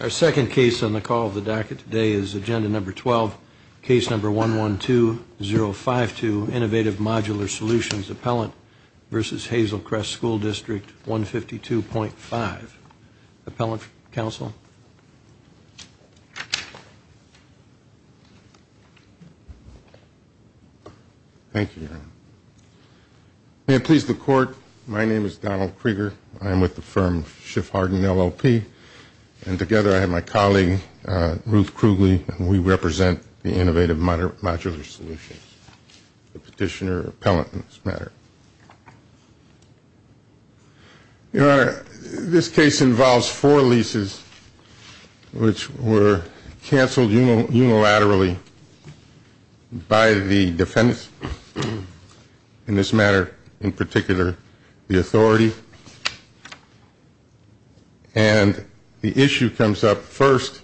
Our second case on the call of the docket today is Agenda Number 12, Case Number 112-052 Innovative Modular Solutions Appellant v. Hazel Crest School District 152.5. Appellant, counsel? Thank you, Your Honor. May it please the Court, my name is Donald Krieger. I am with the firm Schiff Hardin LLP, and together I have my colleague, Ruth Krugly, and we represent the Innovative Modular Solutions, the petitioner appellant in this matter. Your Honor, this case involves four leases which were canceled unilaterally by the defendants in this matter, in particular the authority, and the issue comes up first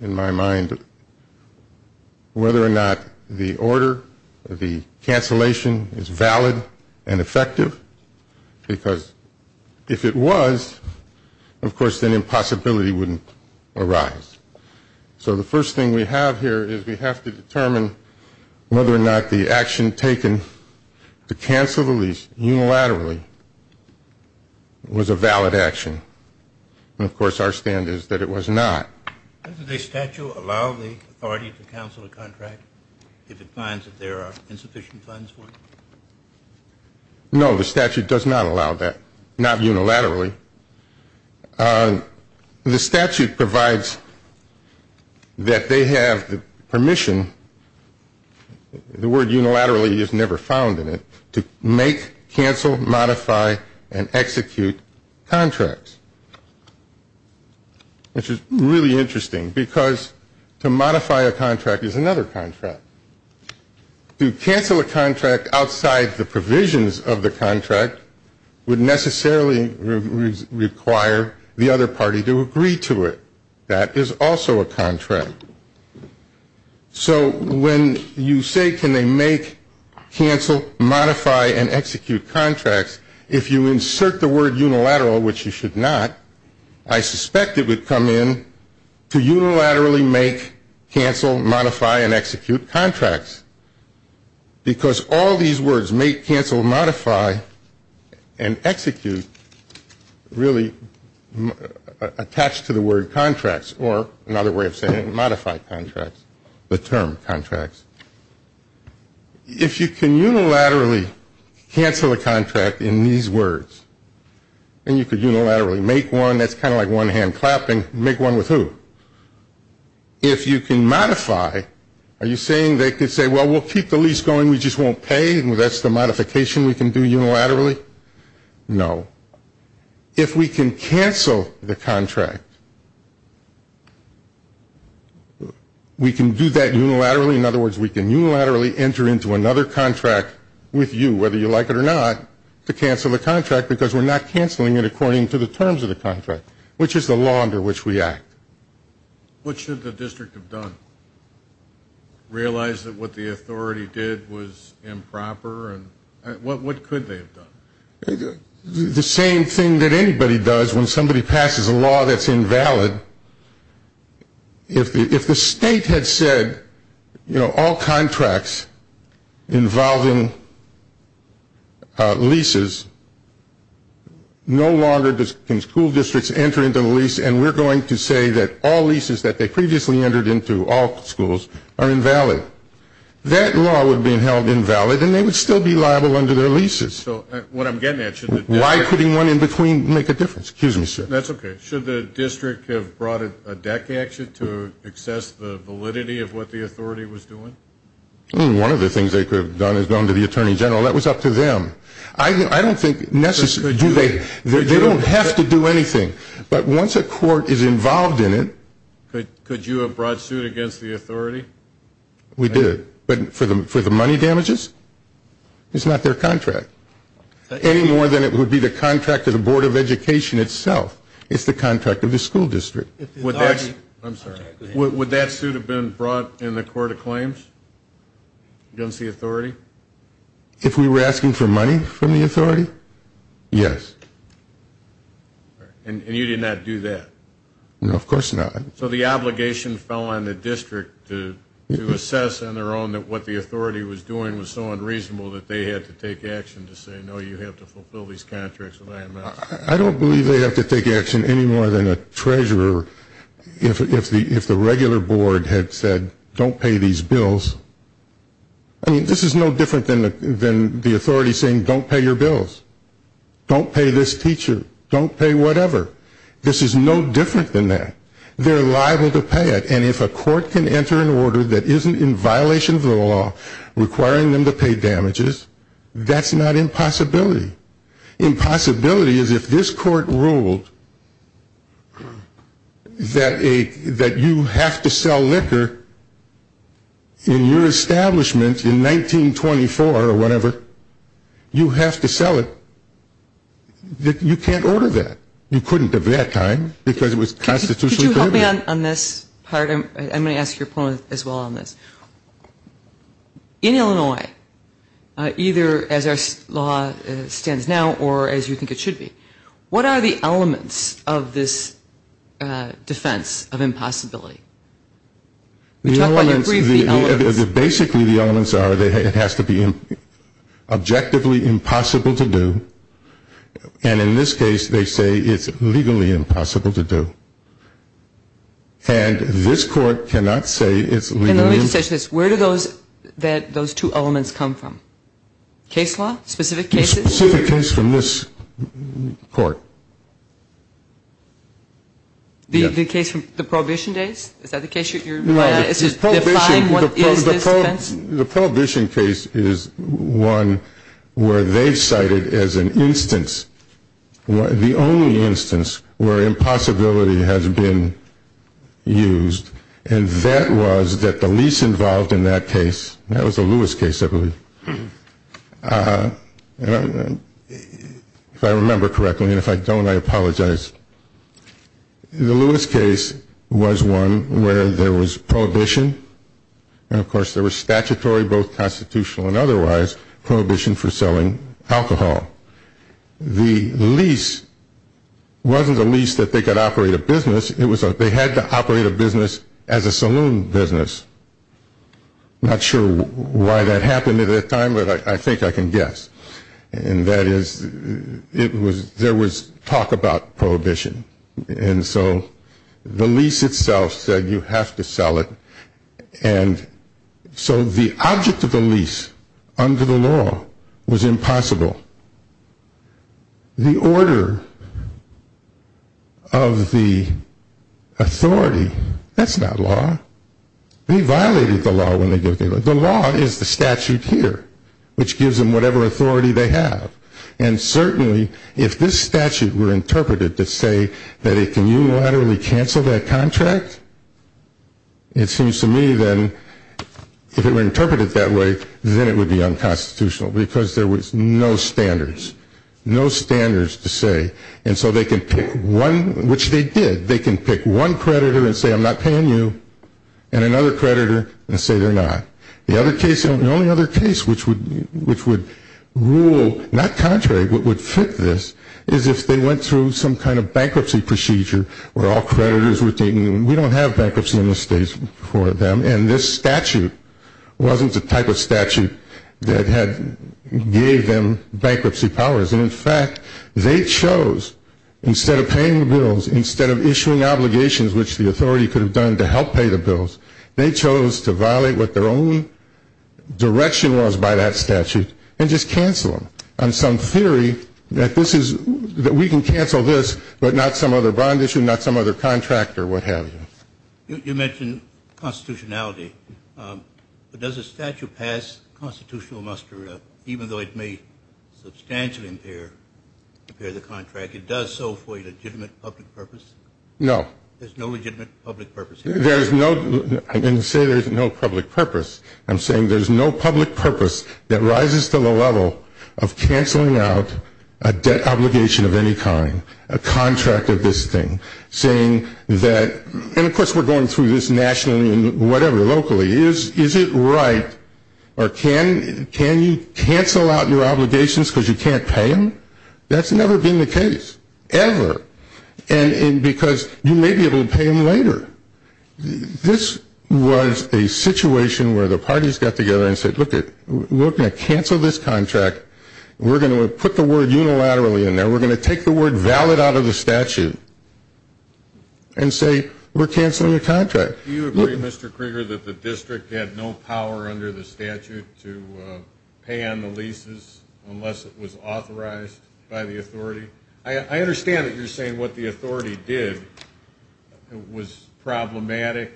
in my mind whether or not the order, the cancellation is valid and effective, because if it was, of course, then impossibility wouldn't arise. So the first thing we have here is we have to determine whether or not the action taken to cancel the lease unilaterally was a valid action, and of course our stand is that it was not. Doesn't the statute allow the authority to cancel a contract if it finds that there are insufficient funds for it? No, the statute does not allow that, not unilaterally. The statute provides that they have the permission, the word unilaterally is never found in it, to make, cancel, modify, and execute contracts, which is really interesting, because to modify a contract is another contract. To cancel a contract outside the provisions of the contract would necessarily require the other party to agree to it. That is also a contract. So when you say can they make, cancel, modify, and execute contracts, if you insert the word unilateral, which you should not, I suspect it would come in to unilaterally make, cancel, modify, and execute contracts, because all these words, make, cancel, modify, and execute, really attach to the word contracts, or another way of saying it, modify contracts, the term contracts. If you can unilaterally cancel a contract in these words, and you could unilaterally make one, that's kind of like one hand clapping, make one with who? If you can modify, are you saying they could say, well, we'll keep the lease going, we just won't pay, and that's the modification we can do unilaterally? No. If we can cancel the contract, we can do that unilaterally, in other words, we can unilaterally enter into another contract with you, whether you like it or not, to cancel the contract, because we're not canceling it according to the terms of the contract, which is the law under which we act. What should the district have done, realize that what the authority did was improper, and what could they have done? The same thing that anybody does when somebody passes a law that's invalid, if the state had said, you know, all contracts involving leases, no longer can school districts enter into the lease, and we're going to say that all leases that they previously entered into all schools are invalid, that law would have been held invalid, and they would still be liable under their leases. Why couldn't one in between make a difference? Should the district have brought a deck action to assess the validity of what the authority was doing? One of the things they could have done is gone to the attorney general, that was up to them. I don't think necessarily, they don't have to do anything, but once a court is involved in it. Could you have brought suit against the authority? We did, but for the money damages? It's not their contract. Any more than it would be the contract of the Board of Education itself, it's the contract of the school district. Would that suit have been brought in the court of claims against the authority? If we were asking for money from the authority, yes. And you did not do that? No, of course not. So the obligation fell on the district to assess on their own that what the authority was doing was so unreasonable that they had to take action to say, no, you have to fulfill these contracts with IMS. I don't believe they have to take action any more than a treasurer if the regular board had said, don't pay these bills. I mean, this is no different than the authority saying, don't pay your bills. Don't pay this teacher. Don't pay whatever. This is no different than that. They're liable to pay it, and if a court can enter an order that isn't in violation of the law, requiring them to pay damages, that's not impossibility. Impossibility is if this court ruled that you have to sell liquor in your establishment in 1924 or whatever, you have to sell it, you can't order that. You couldn't at that time because it was constitutionally prohibited. Could you help me on this part? I'm going to ask your point as well on this. In Illinois, either as our law stands now or as you think it should be, what are the elements of this defense of impossibility? Basically, the elements are that it has to be objectively impossible to do, and in this case they say it's legally impossible to do. And this court cannot say it's legally impossible. And let me just ask you this. Where do those two elements come from? Case law? Specific cases? A specific case from this court. The case from the Prohibition days? Is that the case you're referring to? The Prohibition case is one where they've cited as an instance, the only instance where impossibility has been used, and that was that the lease involved in that case, that was the Lewis case, I believe. If I remember correctly, and if I don't, I apologize. The Lewis case was one where there was prohibition, and, of course, there was statutory, both constitutional and otherwise, prohibition for selling alcohol. The lease wasn't a lease that they could operate a business. They had to operate a business as a saloon business. I'm not sure why that happened at the time, but I think I can guess. And that is there was talk about prohibition. And so the lease itself said you have to sell it, and so the object of the lease under the law was impossible. The order of the authority, that's not law. They violated the law when they gave the order. The law is the statute here, which gives them whatever authority they have, and certainly if this statute were interpreted to say that it can unilaterally cancel that contract, it seems to me then if it were interpreted that way, then it would be unconstitutional because there was no standards, no standards to say. And so they can pick one, which they did. They can pick one creditor and say I'm not paying you, and another creditor and say they're not. The only other case which would rule not contrary but would fit this is if they went through some kind of bankruptcy procedure where all creditors were taken, and we don't have bankruptcy in this state for them, and this statute wasn't the type of statute that gave them bankruptcy powers. And, in fact, they chose instead of paying the bills, instead of issuing obligations, which the authority could have done to help pay the bills, they chose to violate what their own direction was by that statute and just cancel them. And so in theory that this is we can cancel this, but not some other bond issue, not some other contract or what have you. You mentioned constitutionality. Does a statute pass constitutional muster even though it may substantially impair the contract? It does so for a legitimate public purpose? No. There's no legitimate public purpose here? There is no. I didn't say there's no public purpose. I'm saying there's no public purpose that rises to the level of canceling out a debt obligation of any kind, a contract of this thing, saying that, and, of course, we're going through this nationally and whatever, locally. Is it right or can you cancel out your obligations because you can't pay them? That's never been the case, ever, because you may be able to pay them later. This was a situation where the parties got together and said, look, we're going to cancel this contract. We're going to put the word unilaterally in there. We're going to take the word valid out of the statute and say we're canceling the contract. Do you agree, Mr. Krieger, that the district had no power under the statute to pay on the leases unless it was authorized by the authority? I understand that you're saying what the authority did was problematic,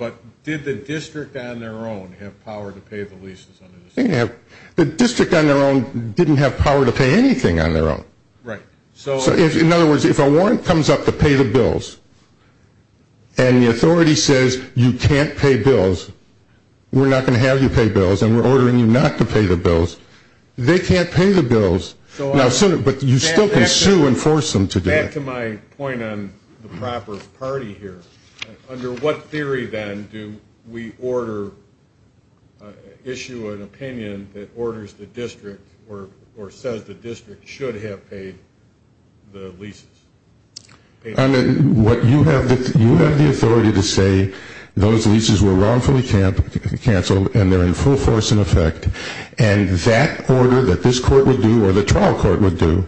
but did the district on their own have power to pay the leases under the statute? The district on their own didn't have power to pay anything on their own. Right. In other words, if a warrant comes up to pay the bills and the authority says you can't pay bills, we're not going to have you pay bills and we're ordering you not to pay the bills, they can't pay the bills. But you still can sue and force them to do that. Back to my point on the proper party here. Under what theory, then, do we issue an opinion that orders the district or says the district should have paid the leases? You have the authority to say those leases were wrongfully canceled and they're in full force in effect, and that order that this court would do or the trial court would do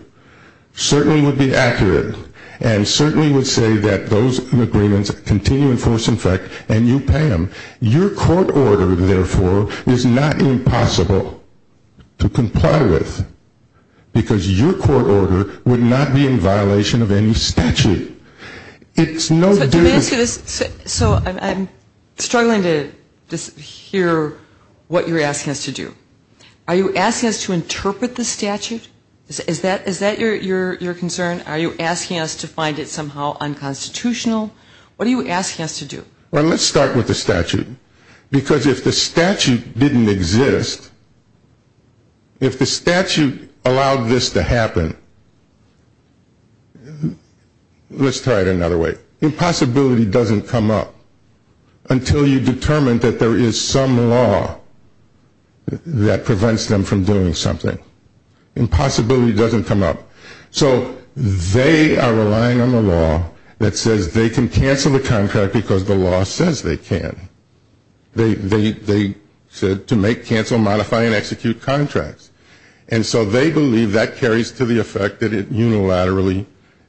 certainly would be accurate and certainly would say that those agreements continue in force in effect and you pay them. Your court order, therefore, is not impossible to comply with because your court order would not be in violation of any statute. So I'm struggling to hear what you're asking us to do. Are you asking us to interpret the statute? Is that your concern? Are you asking us to find it somehow unconstitutional? What are you asking us to do? Well, let's start with the statute because if the statute didn't exist, if the statute allowed this to happen, let's try it another way. Impossibility doesn't come up until you determine that there is some law that prevents them from doing something. Impossibility doesn't come up. So they are relying on a law that says they can cancel the contract because the law says they can. They said to make, cancel, modify, and execute contracts. And so they believe that carries to the effect that it unilaterally,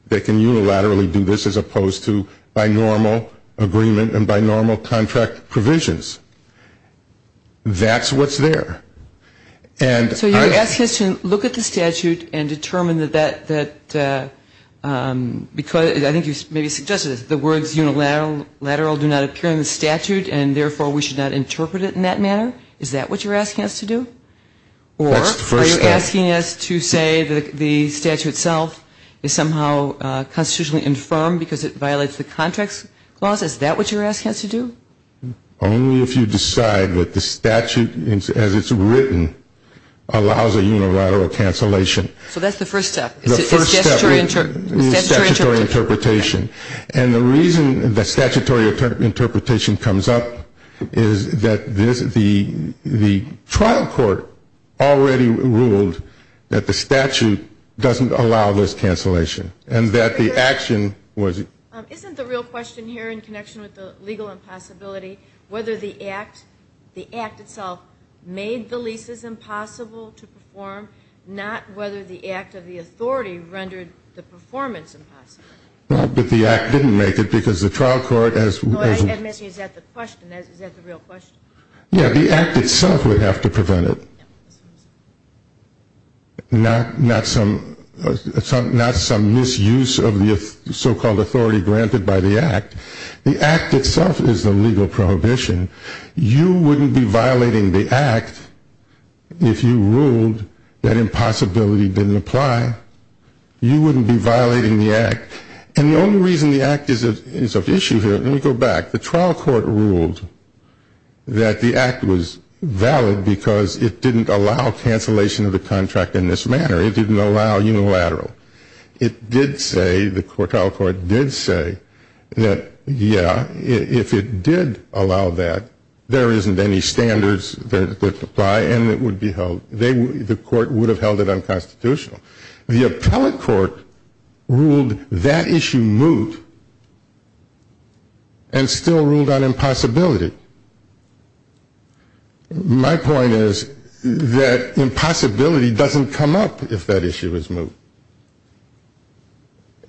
they can unilaterally do this as opposed to by normal agreement and by normal contract provisions. That's what's there. So you're asking us to look at the statute and determine that, I think you maybe suggested this, the words unilateral do not appear in the statute and, therefore, we should not interpret it in that manner? Is that what you're asking us to do? That's the first step. Or are you asking us to say that the statute itself is somehow constitutionally infirmed because it violates the contracts clause? Is that what you're asking us to do? Only if you decide that the statute as it's written allows a unilateral cancellation. So that's the first step. The first step is statutory interpretation. And the reason that statutory interpretation comes up is that the trial court already ruled that the statute doesn't allow this cancellation and that the action was. Isn't the real question here in connection with the legal impossibility, whether the act itself made the leases impossible to perform, not whether the act of the authority rendered the performance impossible? Well, but the act didn't make it because the trial court has... No, I'm asking, is that the question? Is that the real question? Yeah, the act itself would have to prevent it, not some misuse of the so-called authority granted by the act. The act itself is the legal prohibition. You wouldn't be violating the act if you ruled that impossibility didn't apply. You wouldn't be violating the act. And the only reason the act is of issue here... Let me go back. The trial court ruled that the act was valid because it didn't allow cancellation of the contract in this manner. It didn't allow unilateral. It did say, the trial court did say that, yeah, if it did allow that, there isn't any standards that apply and it would be held. The court would have held it unconstitutional. The appellate court ruled that issue moot and still ruled on impossibility. My point is that impossibility doesn't come up if that issue is moot.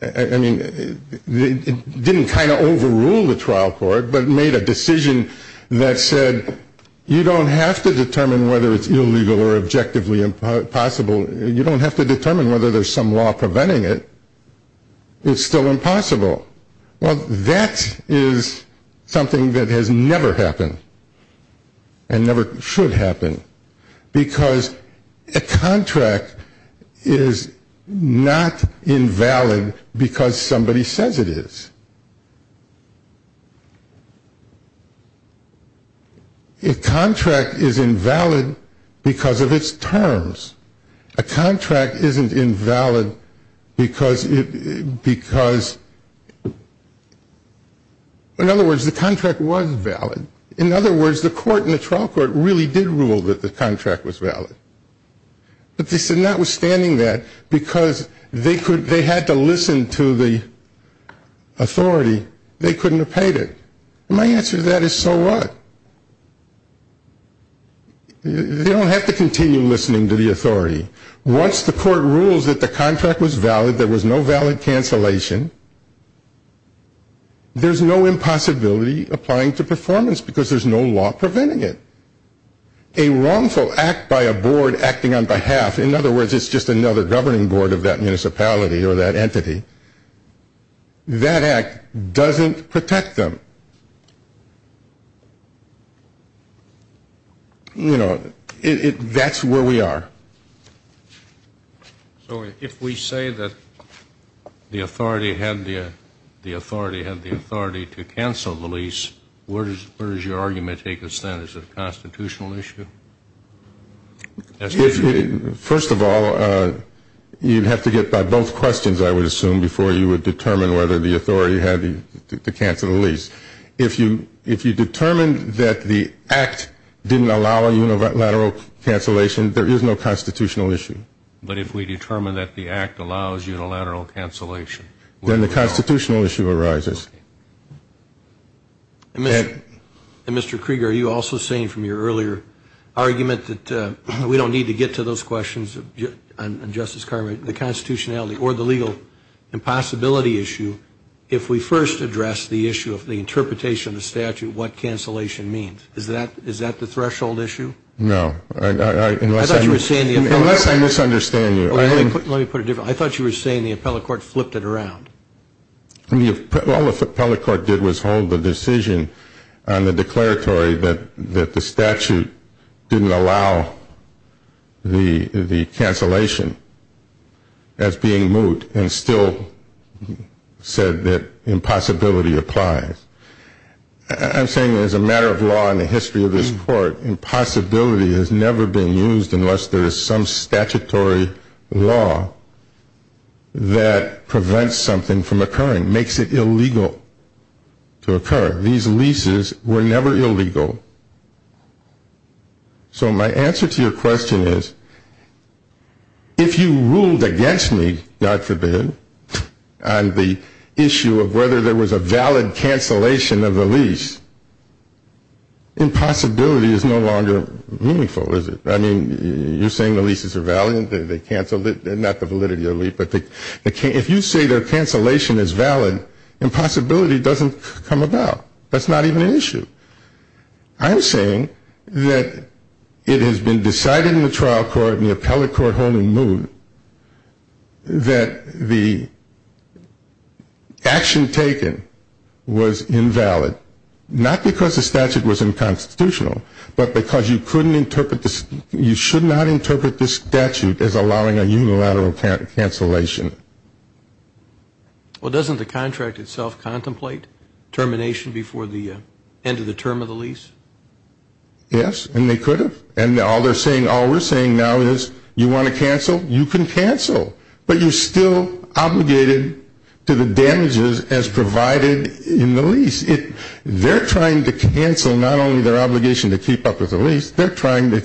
I mean, it didn't kind of overrule the trial court, but it made a decision that said you don't have to determine whether it's illegal or objectively impossible. You don't have to determine whether there's some law preventing it. It's still impossible. Well, that is something that has never happened and never should happen because a contract is not invalid because somebody says it is. A contract is invalid because of its terms. A contract isn't invalid because, in other words, the contract was valid. In other words, the court and the trial court really did rule that the contract was valid. But they said notwithstanding that, because they had to listen to the authority, they couldn't have paid it. My answer to that is so what? They don't have to continue listening to the authority. Once the court rules that the contract was valid, there was no valid cancellation, there's no impossibility applying to performance because there's no law preventing it. A wrongful act by a board acting on behalf, in other words, it's just another governing board of that municipality or that entity, that act doesn't protect them. You know, that's where we are. So if we say that the authority had the authority to cancel the lease, where does your argument take us then? Is it a constitutional issue? First of all, you'd have to get by both questions, I would assume, before you would determine whether the authority had to cancel the lease. If you determined that the act didn't allow a unilateral cancellation, there is no constitutional issue. But if we determine that the act allows unilateral cancellation? Then the constitutional issue arises. And, Mr. Krieger, are you also saying from your earlier argument that we don't need to get to those questions on Justice Carmichael, the constitutionality or the legal impossibility issue, if we first address the issue of the interpretation of the statute, what cancellation means? Is that the threshold issue? No. Unless I misunderstand you. Let me put it differently. I thought you were saying the appellate court flipped it around. All the appellate court did was hold the decision on the declaratory that the statute didn't allow the cancellation as being moot and still said that impossibility applies. I'm saying as a matter of law in the history of this court, impossibility has never been used unless there is some statutory law that prevents something from occurring, makes it illegal to occur. These leases were never illegal. So my answer to your question is, if you ruled against me, God forbid, on the issue of whether there was a valid cancellation of the lease, impossibility is no longer meaningful, is it? I mean, you're saying the leases are valid and they cancel, not the validity of the lease, but if you say their cancellation is valid, impossibility doesn't come about. That's not even an issue. I'm saying that it has been decided in the trial court and the appellate court holding moot that the action taken was invalid, not because the statute was unconstitutional, but because you should not interpret this statute as allowing a unilateral cancellation. Well, doesn't the contract itself contemplate termination before the end of the term of the lease? Yes, and they could have. And all they're saying, all we're saying now is you want to cancel, you can cancel, but you're still obligated to the damages as provided in the lease. They're trying to cancel not only their obligation to keep up with the lease, they're trying to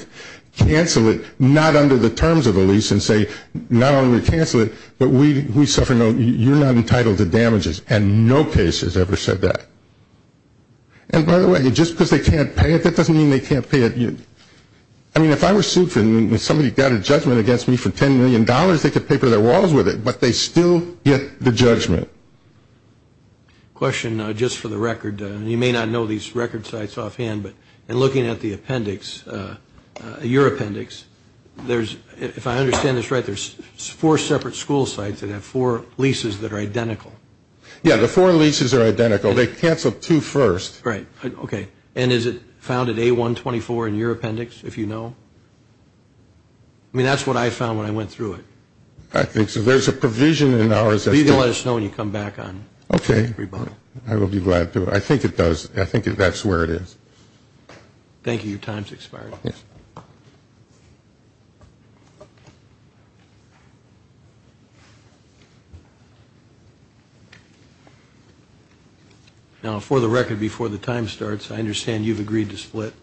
cancel it not under the terms of the lease and say not only cancel it, but we suffer no, you're not entitled to damages, and no case has ever said that. And by the way, just because they can't pay it, that doesn't mean they can't pay it. I mean, if I were sued and somebody got a judgment against me for $10 million, they could paper their walls with it, but they still get the judgment. Question just for the record. You may not know these record sites offhand, but in looking at the appendix, your appendix, if I understand this right, there's four separate school sites that have four leases that are identical. Yeah, the four leases are identical. They cancel two first. Right. Okay. And is it found at A124 in your appendix, if you know? I mean, that's what I found when I went through it. I think so. There's a provision in ours. You can let us know when you come back on. Okay. I will be glad to. I think it does. I think that's where it is. Thank you. Your time has expired. Yes. Now, for the record, before the time starts, I understand you've agreed to split,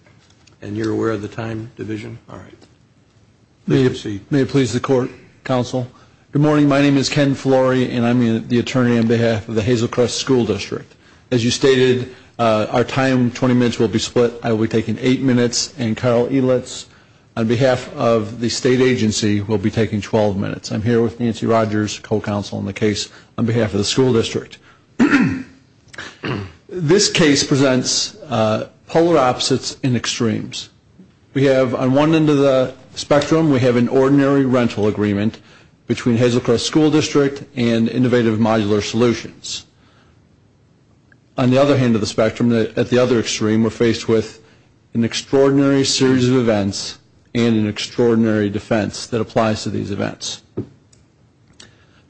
and you're aware of the time division? All right. May it please the Court, Counsel. Good morning. My name is Ken Flory, and I'm the attorney on behalf of the Hazel Crest School District. As you stated, our time, 20 minutes, will be split. I will be taking eight minutes, and Carl Elitz, on behalf of the state agency, will be taking 12 minutes. I'm here with Nancy Rogers, co-counsel on the case, on behalf of the school district. This case presents polar opposites and extremes. We have, on one end of the spectrum, we have an ordinary rental agreement between Hazel Crest School District and Innovative Modular Solutions. On the other hand of the spectrum, at the other extreme, we're faced with an extraordinary series of events and an extraordinary defense that applies to these events.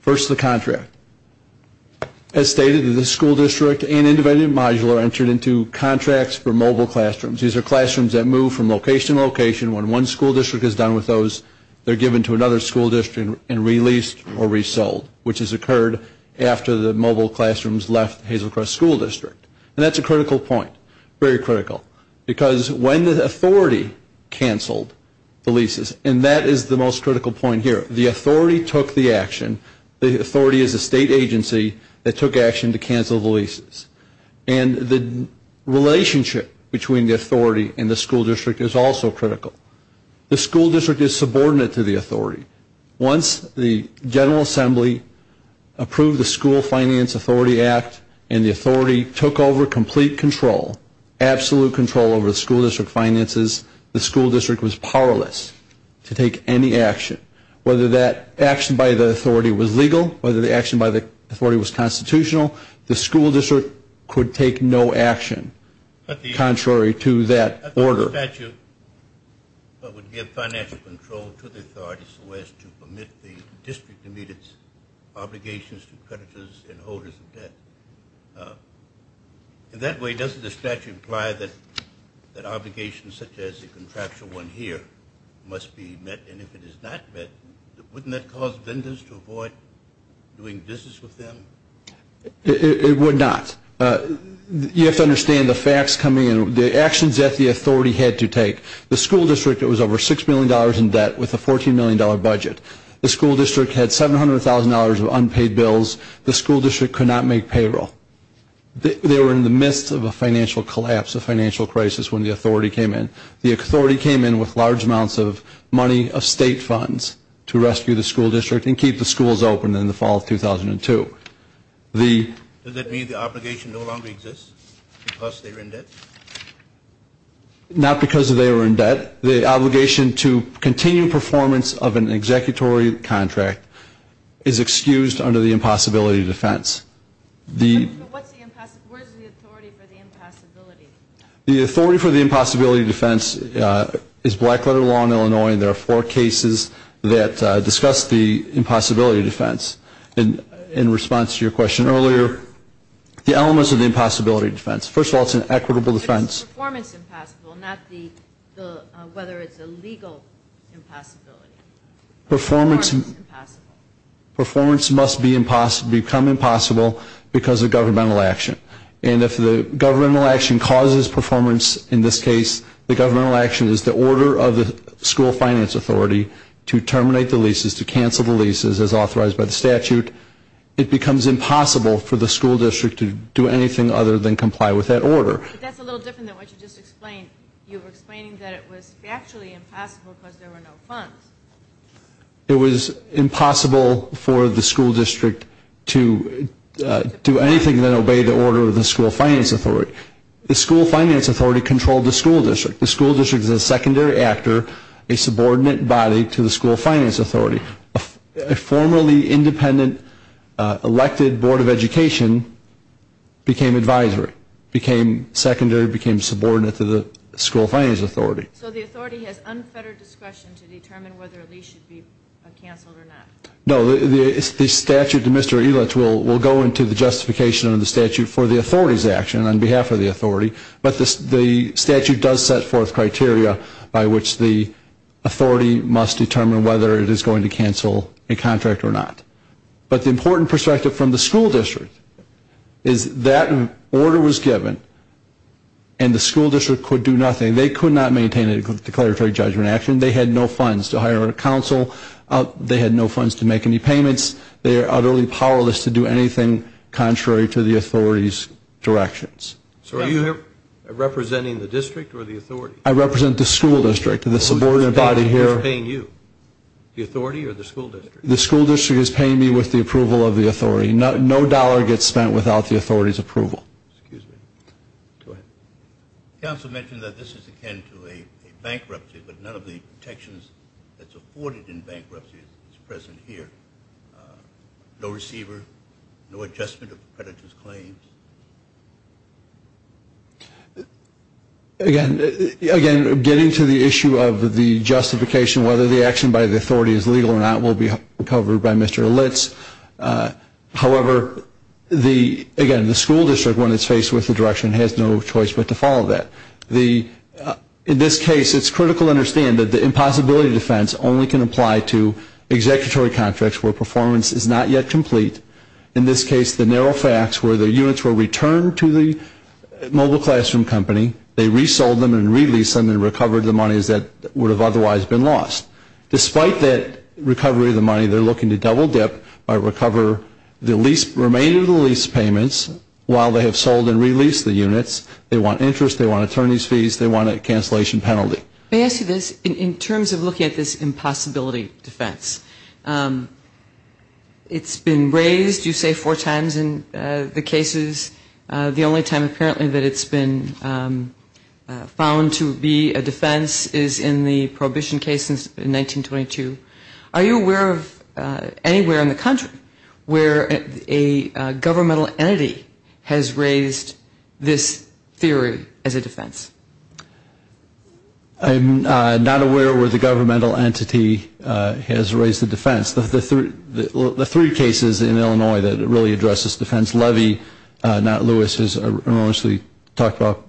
First, the contract. As stated, the school district and Innovative Modular entered into contracts for mobile classrooms. These are classrooms that move from location to location. When one school district is done with those, they're given to another school district and released or resold, which has occurred after the mobile classrooms left Hazel Crest School District. And that's a critical point, very critical, because when the authority canceled the leases, and that is the most critical point here. The authority took the action. The authority is a state agency that took action to cancel the leases. And the relationship between the authority and the school district is also critical. The school district is subordinate to the authority. Once the General Assembly approved the School Finance Authority Act and the authority took over complete control, absolute control over the school district finances, the school district was powerless to take any action. Whether that action by the authority was legal, whether the action by the authority was constitutional, the school district could take no action contrary to that order. If the statute would give financial control to the authority so as to permit the district to meet its obligations to creditors and holders of debt, in that way, doesn't the statute imply that obligations such as the contractual one here must be met? And if it is not met, wouldn't that cause vendors to avoid doing business with them? It would not. You have to understand the facts coming in. The actions that the authority had to take, the school district was over $6 million in debt with a $14 million budget. The school district had $700,000 of unpaid bills. The school district could not make payroll. They were in the midst of a financial collapse, a financial crisis when the authority came in. The authority came in with large amounts of money of state funds to rescue the school district and keep the schools open in the fall of 2002. Does that mean the obligation no longer exists because they were in debt? Not because they were in debt. The obligation to continue performance of an executory contract is excused under the impossibility defense. Where is the authority for the impossibility? The authority for the impossibility defense is black-letter law in Illinois, and there are four cases that discuss the impossibility defense. In response to your question earlier, the elements of the impossibility defense. First of all, it's an equitable defense. But it's performance impossible, not whether it's a legal impossibility. Performance must become impossible because of governmental action. And if the governmental action causes performance in this case, the governmental action is the order of the school finance authority to terminate the leases, to cancel the leases as authorized by the statute. It becomes impossible for the school district to do anything other than comply with that order. But that's a little different than what you just explained. You were explaining that it was factually impossible because there were no funds. It was impossible for the school district to do anything that obeyed the order of the school finance authority. The school finance authority controlled the school district. The school district is a secondary actor, a subordinate body to the school finance authority. A formerly independent elected board of education became advisory, became secondary, became subordinate to the school finance authority. So the authority has unfettered discretion to determine whether a lease should be canceled or not. No, the statute, the Mr. Elitch will go into the justification of the statute for the authority's action. And on behalf of the authority. But the statute does set forth criteria by which the authority must determine whether it is going to cancel a contract or not. But the important perspective from the school district is that order was given and the school district could do nothing. They could not maintain a declaratory judgment action. They had no funds to hire a counsel. They had no funds to make any payments. They are utterly powerless to do anything contrary to the authority's directions. So are you here representing the district or the authority? I represent the school district. The subordinate body here. Who's paying you, the authority or the school district? The school district is paying me with the approval of the authority. No dollar gets spent without the authority's approval. Excuse me. Go ahead. Counsel mentioned that this is akin to a bankruptcy, but none of the protections that's afforded in bankruptcy is present here. No receiver, no adjustment of the creditor's claims. Again, getting to the issue of the justification, whether the action by the authority is legal or not will be covered by Mr. Elitch. However, again, the school district, when it's faced with the direction, has no choice but to follow that. In this case, it's critical to understand that the impossibility defense only can apply to executory contracts where performance is not yet complete. In this case, the narrow facts where the units were returned to the mobile classroom company, they resold them and released them and recovered the monies that would have otherwise been lost. Despite that recovery of the money, they're looking to double dip or recover the remainder of the lease payments while they have sold and released the units. They want interest. They want attorney's fees. They want a cancellation penalty. May I ask you this? In terms of looking at this impossibility defense, it's been raised, you say, four times in the cases. The only time apparently that it's been found to be a defense is in the Prohibition case in 1922. Are you aware of anywhere in the country where a governmental entity has raised this theory as a defense? I'm not aware where the governmental entity has raised the defense. The three cases in Illinois that really address this defense, Levy, not Lewis, as enormously talked about,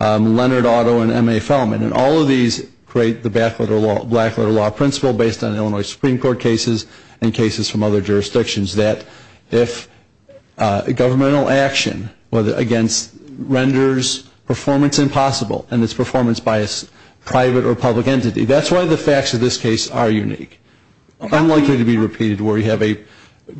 Leonard, Otto, and M.A. Feldman, and all of these create the black-letter law principle based on Illinois Supreme Court cases and cases from other jurisdictions that if governmental action against renders performance impossible and it's performance by a private or public entity, that's why the facts of this case are unique. Unlikely to be repeated where you have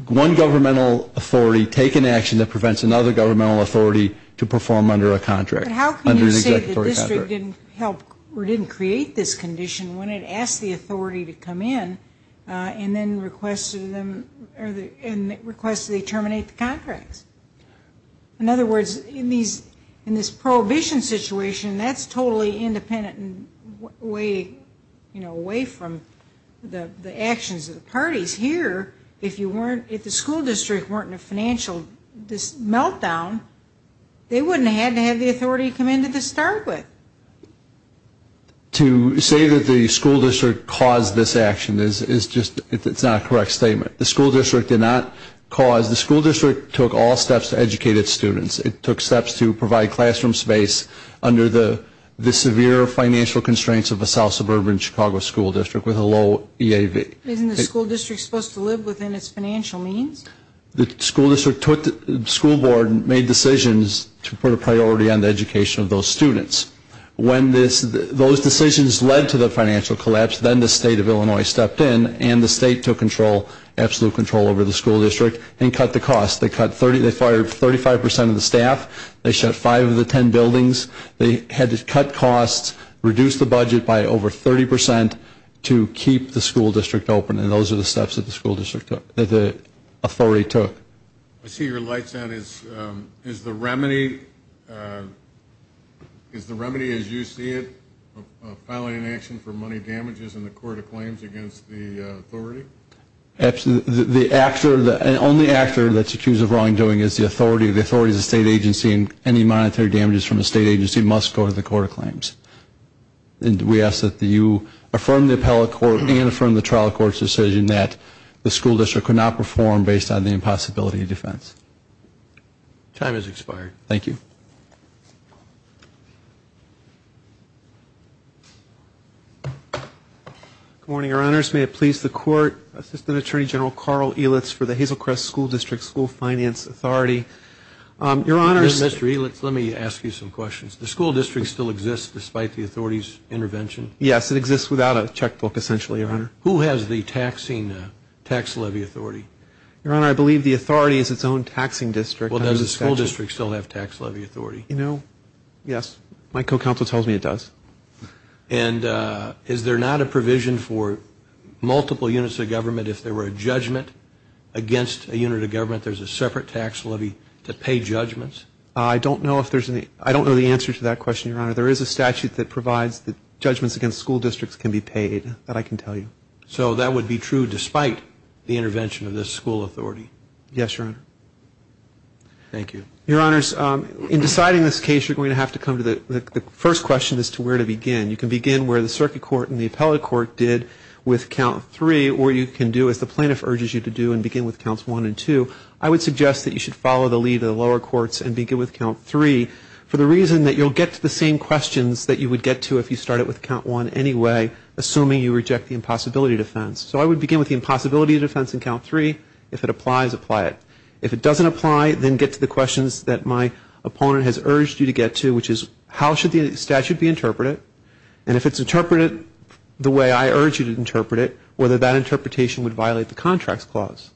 one governmental authority take an action that prevents another governmental authority to perform under a contract. How can you say the district didn't help or didn't create this condition when it asked the authority to come in and then requested they terminate the contracts? In other words, in this Prohibition situation, that's totally independent and away from the actions of the parties. Here, if you weren't, if the school district weren't in a financial meltdown, they wouldn't have had to have the authority to come in to start with. To say that the school district caused this action is just, it's not a correct statement. The school district did not cause, the school district took all steps to educate its students. It took steps to provide classroom space under the severe financial constraints of a south suburban Chicago school district with a low EAV. Isn't the school district supposed to live within its financial means? The school district took, the school board made decisions to put a priority on the education of those students. When those decisions led to the financial collapse, then the State of Illinois stepped in and the state took control, absolute control over the school district and cut the cost. They fired 35% of the staff. They shut five of the ten buildings. They had to cut costs, reduce the budget by over 30% to keep the school district open. And those are the steps that the school district took, that the authority took. I see your light's on. Is the remedy, is the remedy as you see it, a final inaction for money damages in the court of claims against the authority? Absolutely. The actor, the only actor that's accused of wrongdoing is the authority, the authority of the state agency and any monetary damages from the state agency must go to the court of claims. And we ask that you affirm the appellate court and affirm the trial court's decision that the school district could not perform based on the impossibility of defense. Time has expired. Thank you. Good morning, Your Honors. May it please the court, Assistant Attorney General Carl Elitz for the Hazelcrest School District School Finance Authority. Your Honors. Mr. Elitz, let me ask you some questions. Does the school district still exist despite the authority's intervention? Yes, it exists without a checkbook essentially, Your Honor. Who has the taxing, tax levy authority? Your Honor, I believe the authority is its own taxing district. Well, does the school district still have tax levy authority? No. Yes. My co-counsel tells me it does. And is there not a provision for multiple units of government if there were a judgment against a unit of government, there's a separate tax levy to pay judgments? I don't know if there's any. I don't know the answer to that question, Your Honor. There is a statute that provides that judgments against school districts can be paid, that I can tell you. So that would be true despite the intervention of this school authority? Yes, Your Honor. Thank you. Your Honors, in deciding this case, you're going to have to come to the first question as to where to begin. You can begin where the circuit court and the appellate court did with Count 3, or you can do as the plaintiff urges you to do and begin with Counts 1 and 2. I would suggest that you should follow the lead of the lower courts and begin with Count 3 for the reason that you'll get to the same questions that you would get to if you started with Count 1 anyway, assuming you reject the impossibility defense. So I would begin with the impossibility defense in Count 3. If it applies, apply it. If it doesn't apply, then get to the questions that my opponent has urged you to get to, which is how should the statute be interpreted? And if it's interpreted the way I urge you to interpret it, whether that interpretation would violate the Contracts Clause.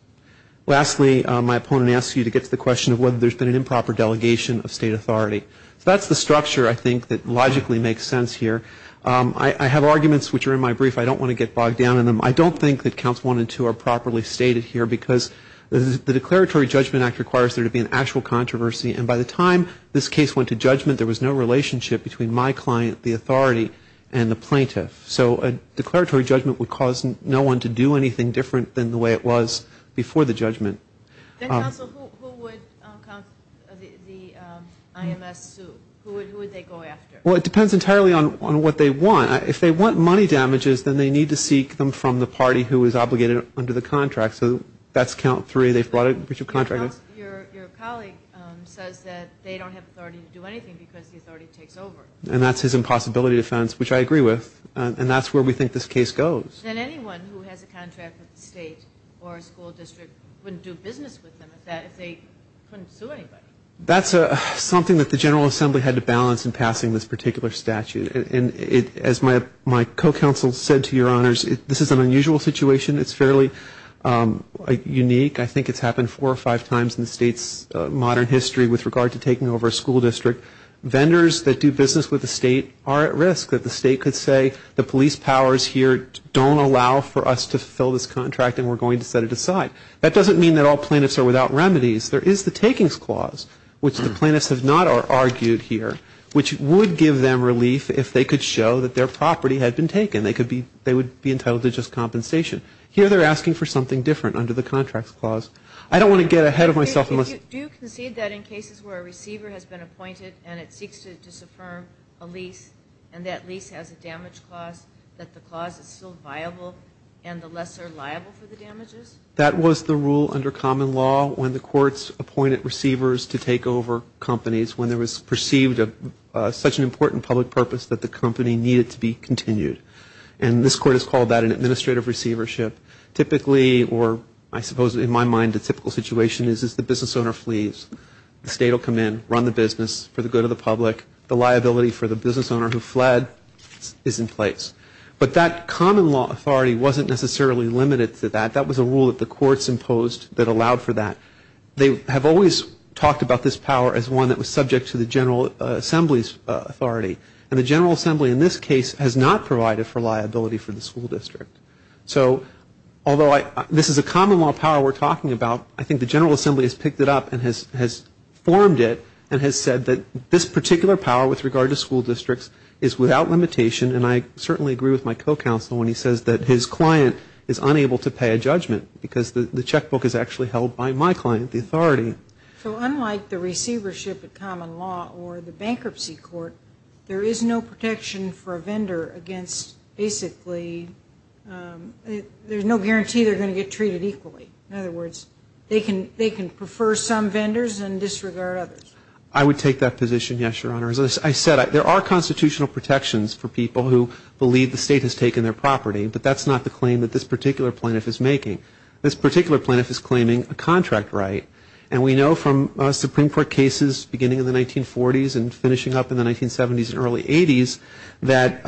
Lastly, my opponent asks you to get to the question of whether there's been an improper delegation of state authority. So that's the structure, I think, that logically makes sense here. I have arguments which are in my brief. I don't want to get bogged down in them. I don't think that Counts 1 and 2 are properly stated here because the Declaratory Judgment Act requires there to be an actual controversy. And by the time this case went to judgment, there was no relationship between my client, the authority, and the plaintiff. So a declaratory judgment would cause no one to do anything different than the way it was before the judgment. Then, counsel, who would the IMS sue? Who would they go after? Well, it depends entirely on what they want. If they want money damages, then they need to seek them from the party who is obligated under the contract. So that's Count 3. They've brought a bunch of contractors. Your colleague says that they don't have authority to do anything because the authority takes over. And that's his impossibility defense, which I agree with. And that's where we think this case goes. Then anyone who has a contract with the state or a school district wouldn't do business with them if they couldn't sue anybody. That's something that the General Assembly had to balance in passing this particular statute. And as my co-counsel said to your honors, this is an unusual situation. It's fairly unique. I think it's happened four or five times in the state's modern history with regard to taking over a school district. Vendors that do business with the state are at risk. The state could say the police powers here don't allow for us to fill this contract and we're going to set it aside. That doesn't mean that all plaintiffs are without remedies. There is the takings clause, which the plaintiffs have not argued here, which would give them relief if they could show that their property had been taken. They would be entitled to just compensation. Here they're asking for something different under the contracts clause. I don't want to get ahead of myself. Do you concede that in cases where a receiver has been appointed and it seeks to disaffirm a lease and that lease has a damage clause, that the clause is still viable and the lesser liable for the damages? That was the rule under common law when the courts appointed receivers to take over companies. When there was perceived such an important public purpose that the company needed to be continued. And this court has called that an administrative receivership. Typically, or I suppose in my mind a typical situation is, is the business owner flees. The state will come in, run the business for the good of the public. The liability for the business owner who fled is in place. But that common law authority wasn't necessarily limited to that. That was a rule that the courts imposed that allowed for that. They have always talked about this power as one that was subject to the General Assembly's authority. And the General Assembly in this case has not provided for liability for the school district. So although this is a common law power we're talking about, I think the General Assembly has picked it up and has formed it and has said that this particular power with regard to school districts is without limitation. And I certainly agree with my co-counsel when he says that his client is unable to pay a judgment because the checkbook is actually held by my client, the authority. So unlike the receivership of common law or the bankruptcy court, there is no protection for a vendor against basically, there's no guarantee they're going to get treated equally. In other words, they can prefer some vendors and disregard others. I would take that position, yes, Your Honor. As I said, there are constitutional protections for people who believe the state has taken their property. But that's not the claim that this particular plaintiff is making. This particular plaintiff is claiming a contract right. And we know from Supreme Court cases beginning in the 1940s and finishing up in the 1970s and early 80s that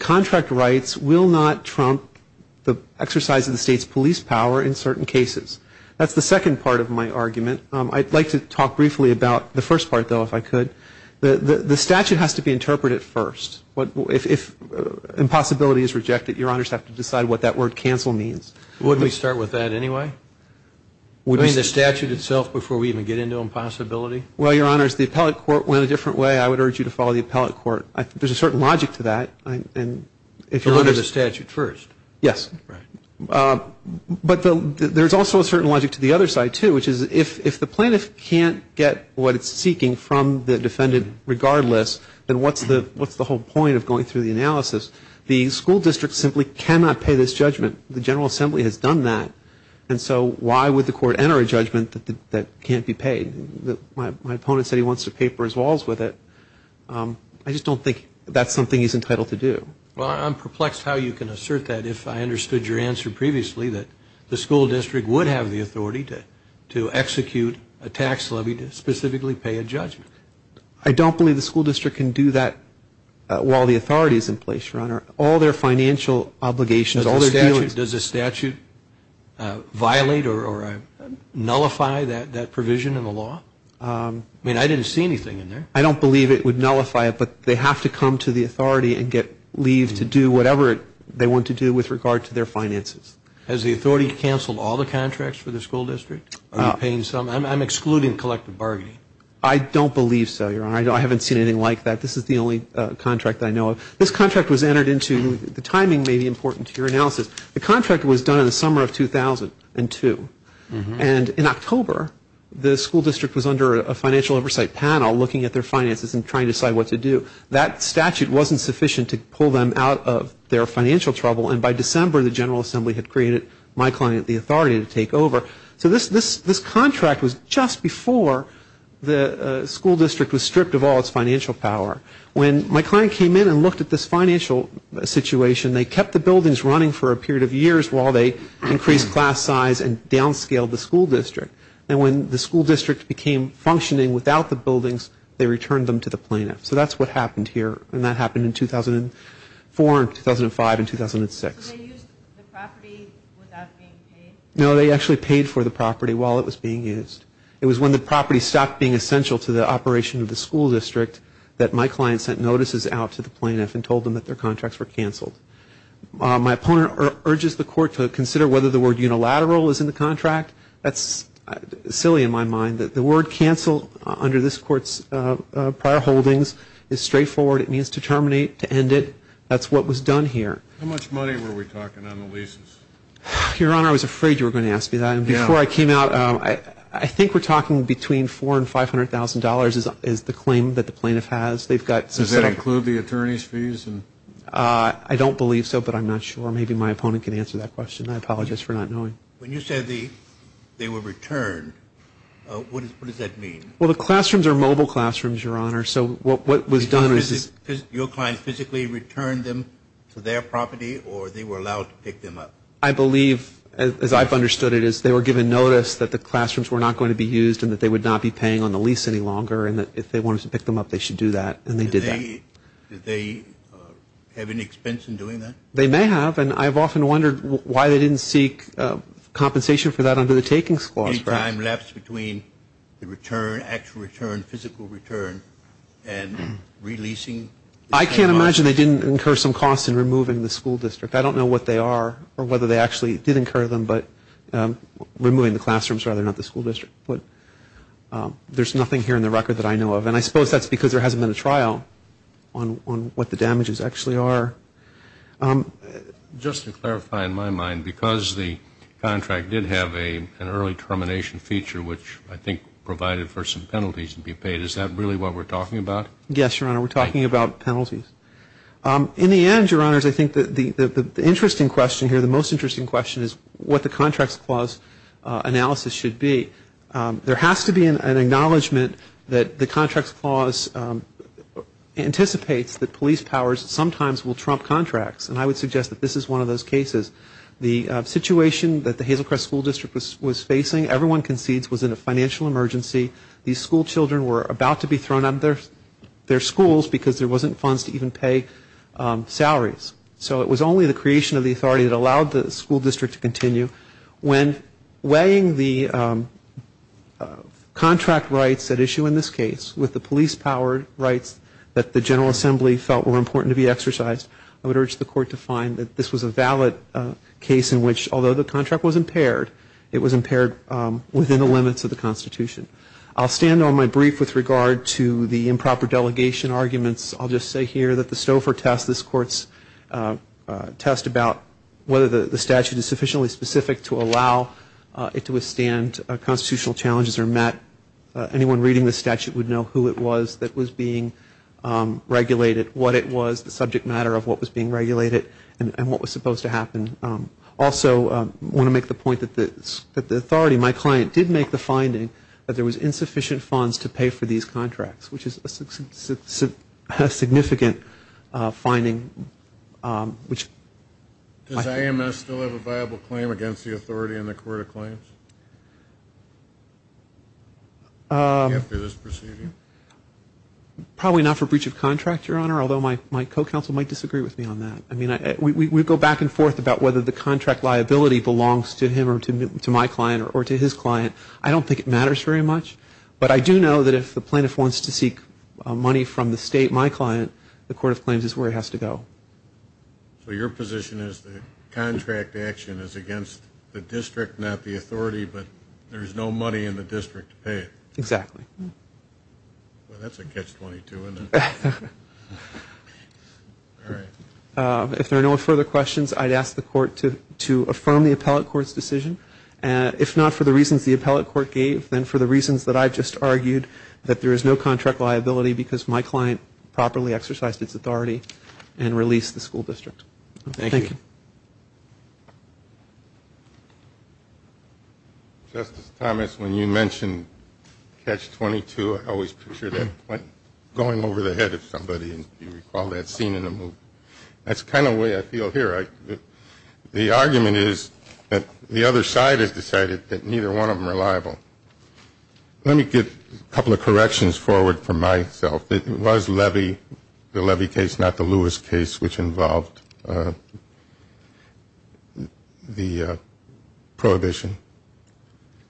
contract rights will not trump the exercise of the state's police power in certain cases. That's the second part of my argument. I'd like to talk briefly about the first part, though, if I could. The statute has to be interpreted first. If impossibility is rejected, Your Honors have to decide what that word cancel means. Wouldn't we start with that anyway? I mean the statute itself before we even get into impossibility? Well, Your Honors, the appellate court went a different way. I would urge you to follow the appellate court. There's a certain logic to that. So under the statute first? Yes. Right. But there's also a certain logic to the other side, too, which is if the plaintiff can't get what it's seeking from the defendant regardless, then what's the whole point of going through the analysis? The school district simply cannot pay this judgment. The General Assembly has done that. And so why would the court enter a judgment that can't be paid? My opponent said he wants to paper his walls with it. I just don't think that's something he's entitled to do. Well, I'm perplexed how you can assert that if I understood your answer previously, that the school district would have the authority to execute a tax levy to specifically pay a judgment. I don't believe the school district can do that while the authority is in place, Your Honor. All their financial obligations, all their dealings. Does the statute violate or nullify that provision in the law? I mean I didn't see anything in there. I don't believe it would nullify it, but they have to come to the authority and get leave to do whatever they want to do with regard to their finances. Has the authority canceled all the contracts for the school district? Are you paying some? I'm excluding collective bargaining. I don't believe so, Your Honor. I haven't seen anything like that. This is the only contract that I know of. This contract was entered into. The timing may be important to your analysis. The contract was done in the summer of 2002. And in October, the school district was under a financial oversight panel looking at their finances and trying to decide what to do. That statute wasn't sufficient to pull them out of their financial trouble. And by December, the General Assembly had created my client the authority to take over. So this contract was just before the school district was stripped of all its financial power. When my client came in and looked at this financial situation, they kept the buildings running for a period of years while they increased class size and downscaled the school district. And when the school district became functioning without the buildings, they returned them to the plaintiff. So that's what happened here. And that happened in 2004 and 2005 and 2006. So they used the property without being paid? No, they actually paid for the property while it was being used. It was when the property stopped being essential to the operation of the school district that my client sent notices out to the plaintiff and told them that their contracts were canceled. My opponent urges the court to consider whether the word unilateral is in the contract. That's silly in my mind that the word canceled under this court's prior holdings is straightforward. It means to terminate, to end it. That's what was done here. How much money were we talking on the leases? Your Honor, I was afraid you were going to ask me that. Before I came out, I think we're talking between $400,000 and $500,000 is the claim that the plaintiff has. Does that include the attorney's fees? I don't believe so, but I'm not sure. Maybe my opponent can answer that question. I apologize for not knowing. When you said they were returned, what does that mean? Well, the classrooms are mobile classrooms, Your Honor. Your client physically returned them to their property, or they were allowed to pick them up? I believe, as I've understood it, is they were given notice that the classrooms were not going to be used and that they would not be paying on the lease any longer and that if they wanted to pick them up, they should do that, and they did that. Did they have any expense in doing that? They may have, and I've often wondered why they didn't seek compensation for that under the takings clause. Any time left between the return, actual return, physical return, and releasing? I can't imagine they didn't incur some costs in removing the school district. I don't know what they are or whether they actually did incur them, but removing the classrooms rather than the school district. There's nothing here in the record that I know of, and I suppose that's because there hasn't been a trial on what the damages actually are. Just to clarify in my mind, because the contract did have an early termination feature, which I think provided for some penalties to be paid, is that really what we're talking about? Yes, Your Honor, we're talking about penalties. In the end, Your Honors, I think the interesting question here, the most interesting question is what the contracts clause analysis should be. There has to be an acknowledgment that the contracts clause anticipates that police powers sometimes will trump contracts, and I would suggest that this is one of those cases. The situation that the Hazel Crest School District was facing, everyone concedes, was in a financial emergency. These school children were about to be thrown out of their schools because there wasn't funds to even pay salaries. So it was only the creation of the authority that allowed the school district to continue. When weighing the contract rights at issue in this case, with the police-powered rights that the General Assembly felt were important to be exercised, I would urge the Court to find that this was a valid case in which, although the contract was impaired, it was impaired within the limits of the Constitution. I'll stand on my brief with regard to the improper delegation arguments. I'll just say here that the Stouffer test, this Court's test about whether the statute is sufficiently specific to allow it to withstand constitutional challenges or not, anyone reading the statute would know who it was that was being regulated, what it was, the subject matter of what was being regulated, and what was supposed to happen. Also, I want to make the point that the authority, my client, did make the finding that there was insufficient funds to pay for these contracts, which is a significant finding. Does AMS still have a viable claim against the authority in the Court of Claims? After this proceeding? Probably not for breach of contract, Your Honor, although my co-counsel might disagree with me on that. I mean, we go back and forth about whether the contract liability belongs to him or to my client or to his client. I don't think it matters very much. But I do know that if the plaintiff wants to seek money from the state, my client, the Court of Claims is where he has to go. So your position is the contract action is against the district, not the authority, but there's no money in the district to pay it? Exactly. Well, that's a catch-22, isn't it? If there are no further questions, I'd ask the Court to affirm the appellate court's decision. If not for the reasons the appellate court gave, then for the reasons that I just argued, that there is no contract liability because my client properly exercised its authority and released the school district. Thank you. Justice Thomas, when you mentioned catch-22, I always picture that going over the head of somebody, if you recall that scene in the movie. That's the kind of way I feel here. The argument is that the other side has decided that neither one of them are liable. Let me get a couple of corrections forward for myself. It was Levy, the Levy case, not the Lewis case, which involved the prohibition.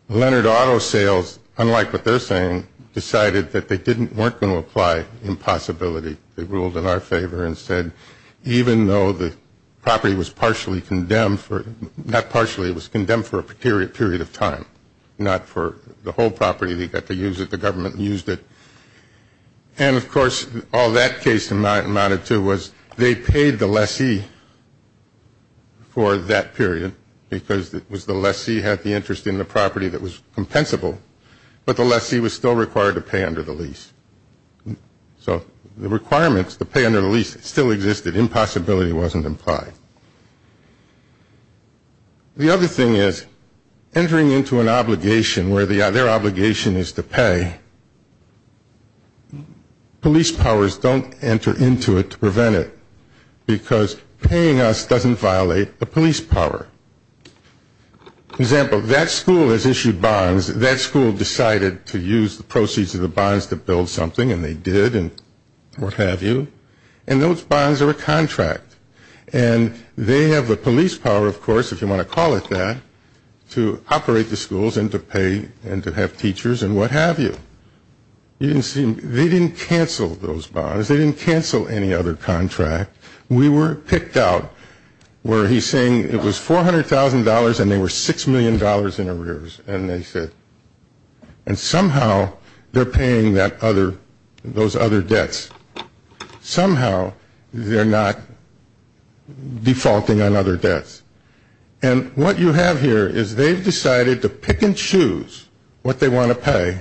Leonard Auto Sales, unlike what they're saying, decided that they weren't going to apply impossibility. They ruled in our favor and said, even though the property was partially condemned for, not partially, it was condemned for a period of time, not for the whole property. They got to use it. The government used it. And, of course, all that case amounted to was they paid the lessee for that period because it was the lessee who had the interest in the property that was compensable, but the lessee was still required to pay under the lease. So the requirements to pay under the lease still existed. Impossibility wasn't implied. The other thing is entering into an obligation where their obligation is to pay, police powers don't enter into it to prevent it because paying us doesn't violate the police power. For example, that school has issued bonds. That school decided to use the proceeds of the bonds to build something, and they did, and what have you, and those bonds are a contract. And they have the police power, of course, if you want to call it that, to operate the schools and to pay and to have teachers and what have you. They didn't cancel those bonds. They didn't cancel any other contract. We were picked out where he's saying it was $400,000 and they were $6 million in arrears, and somehow they're paying those other debts. Somehow they're not defaulting on other debts. And what you have here is they've decided to pick and choose what they want to pay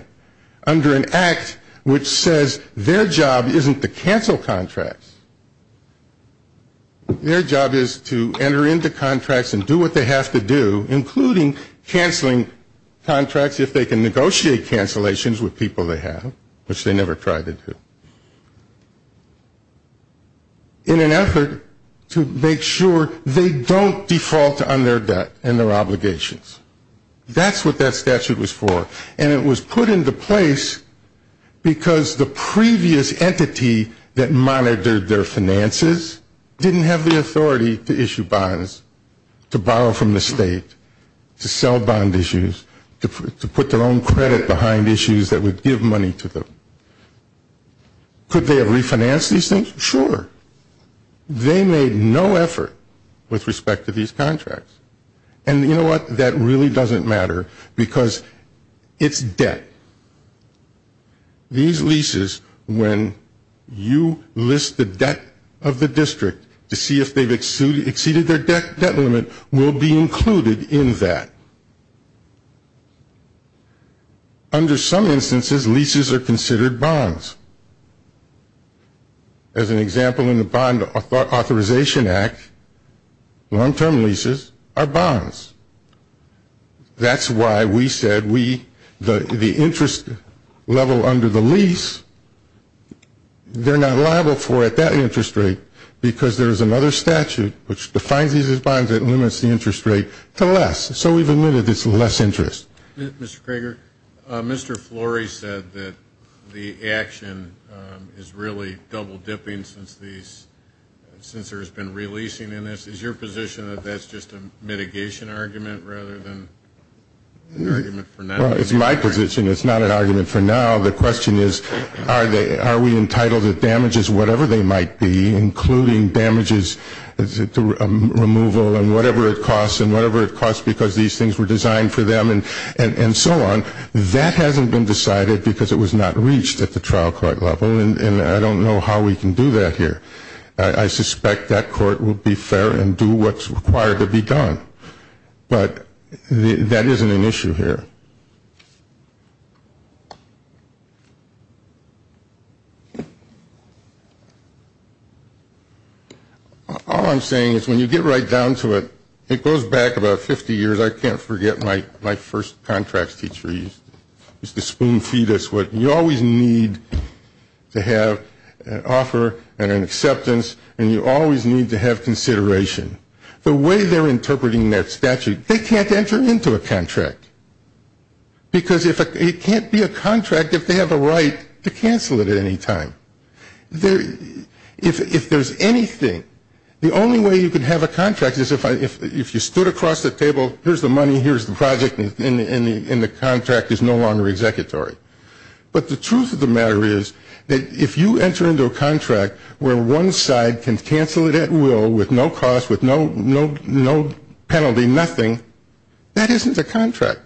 under an act which says their job isn't to cancel contracts. Their job is to enter into contracts and do what they have to do, including canceling contracts if they can negotiate cancellations with people they have, which they never tried to do, in an effort to make sure they don't default on their debt and their obligations. That's what that statute was for. And it was put into place because the previous entity that monitored their finances didn't have the authority to issue bonds, to borrow from the state, to sell bond issues, to put their own credit behind issues that would give money to them. Could they have refinanced these things? Sure. They made no effort with respect to these contracts. And you know what? That really doesn't matter because it's debt. These leases, when you list the debt of the district to see if they've exceeded their debt limit, will be included in that. Under some instances, leases are considered bonds. As an example, in the Bond Authorization Act, long-term leases are bonds. That's why we said the interest level under the lease, they're not liable for at that interest rate because there's another statute which defines these as bonds that limits the interest rate to less. So we've admitted it's less interest. Mr. Krager, Mr. Flory said that the action is really double-dipping since there's been releasing in this. Is your position that that's just a mitigation argument rather than an argument for now? It's my position it's not an argument for now. The question is are we entitled to damages, whatever they might be, including damages, removal, and whatever it costs, and whatever it costs because these things were designed for them. And so on. That hasn't been decided because it was not reached at the trial court level. And I don't know how we can do that here. I suspect that court will be fair and do what's required to be done. But that isn't an issue here. All I'm saying is when you get right down to it, it goes back about 50 years. I can't forget my first contract teacher used to spoon feed us. You always need to have an offer and an acceptance, and you always need to have consideration. The way they're interpreting that statute, they can't enter into a contract because it can't be a contract if they have a right to cancel it at any time. If there's anything, the only way you can have a contract is if you stood across the table, here's the money, here's the project, and the contract is no longer executory. But the truth of the matter is that if you enter into a contract where one side can cancel it at will with no cost, with no penalty, nothing, that isn't a contract.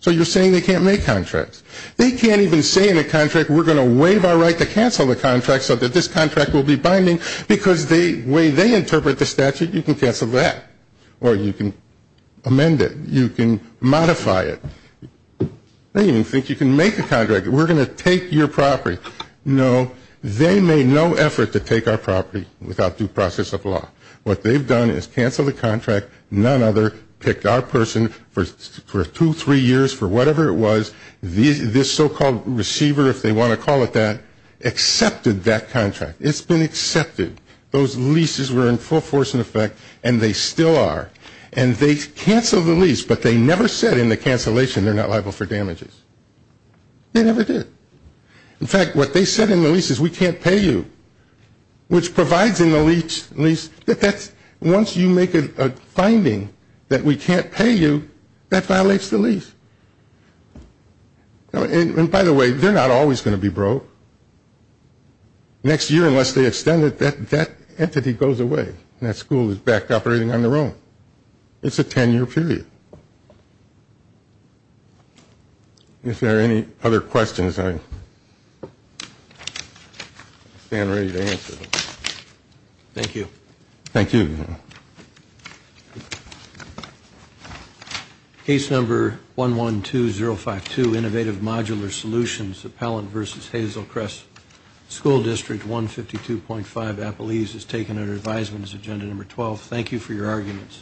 So you're saying they can't make contracts. They can't even say in a contract we're going to waive our right to cancel the contract so that this contract will be binding because the way they interpret the statute, you can cancel that, or you can amend it, you can modify it. They don't even think you can make a contract. We're going to take your property. No, they made no effort to take our property without due process of law. What they've done is cancel the contract. None other picked our person for two, three years, for whatever it was. This so-called receiver, if they want to call it that, accepted that contract. It's been accepted. Those leases were in full force and effect, and they still are. And they canceled the lease, but they never said in the cancellation they're not liable for damages. They never did. In fact, what they said in the lease is we can't pay you, which provides in the lease that once you make a finding that we can't pay you, that violates the lease. And by the way, they're not always going to be broke. Next year, unless they extend it, that entity goes away, and that school is back operating on their own. It's a ten-year period. If there are any other questions, I stand ready to answer them. Thank you. Thank you. Thank you. Case number 112052, Innovative Modular Solutions, Appellant v. Hazelcrest School District, 152.5 Appelese, is taken under advisement as agenda number 12. Thank you for your arguments.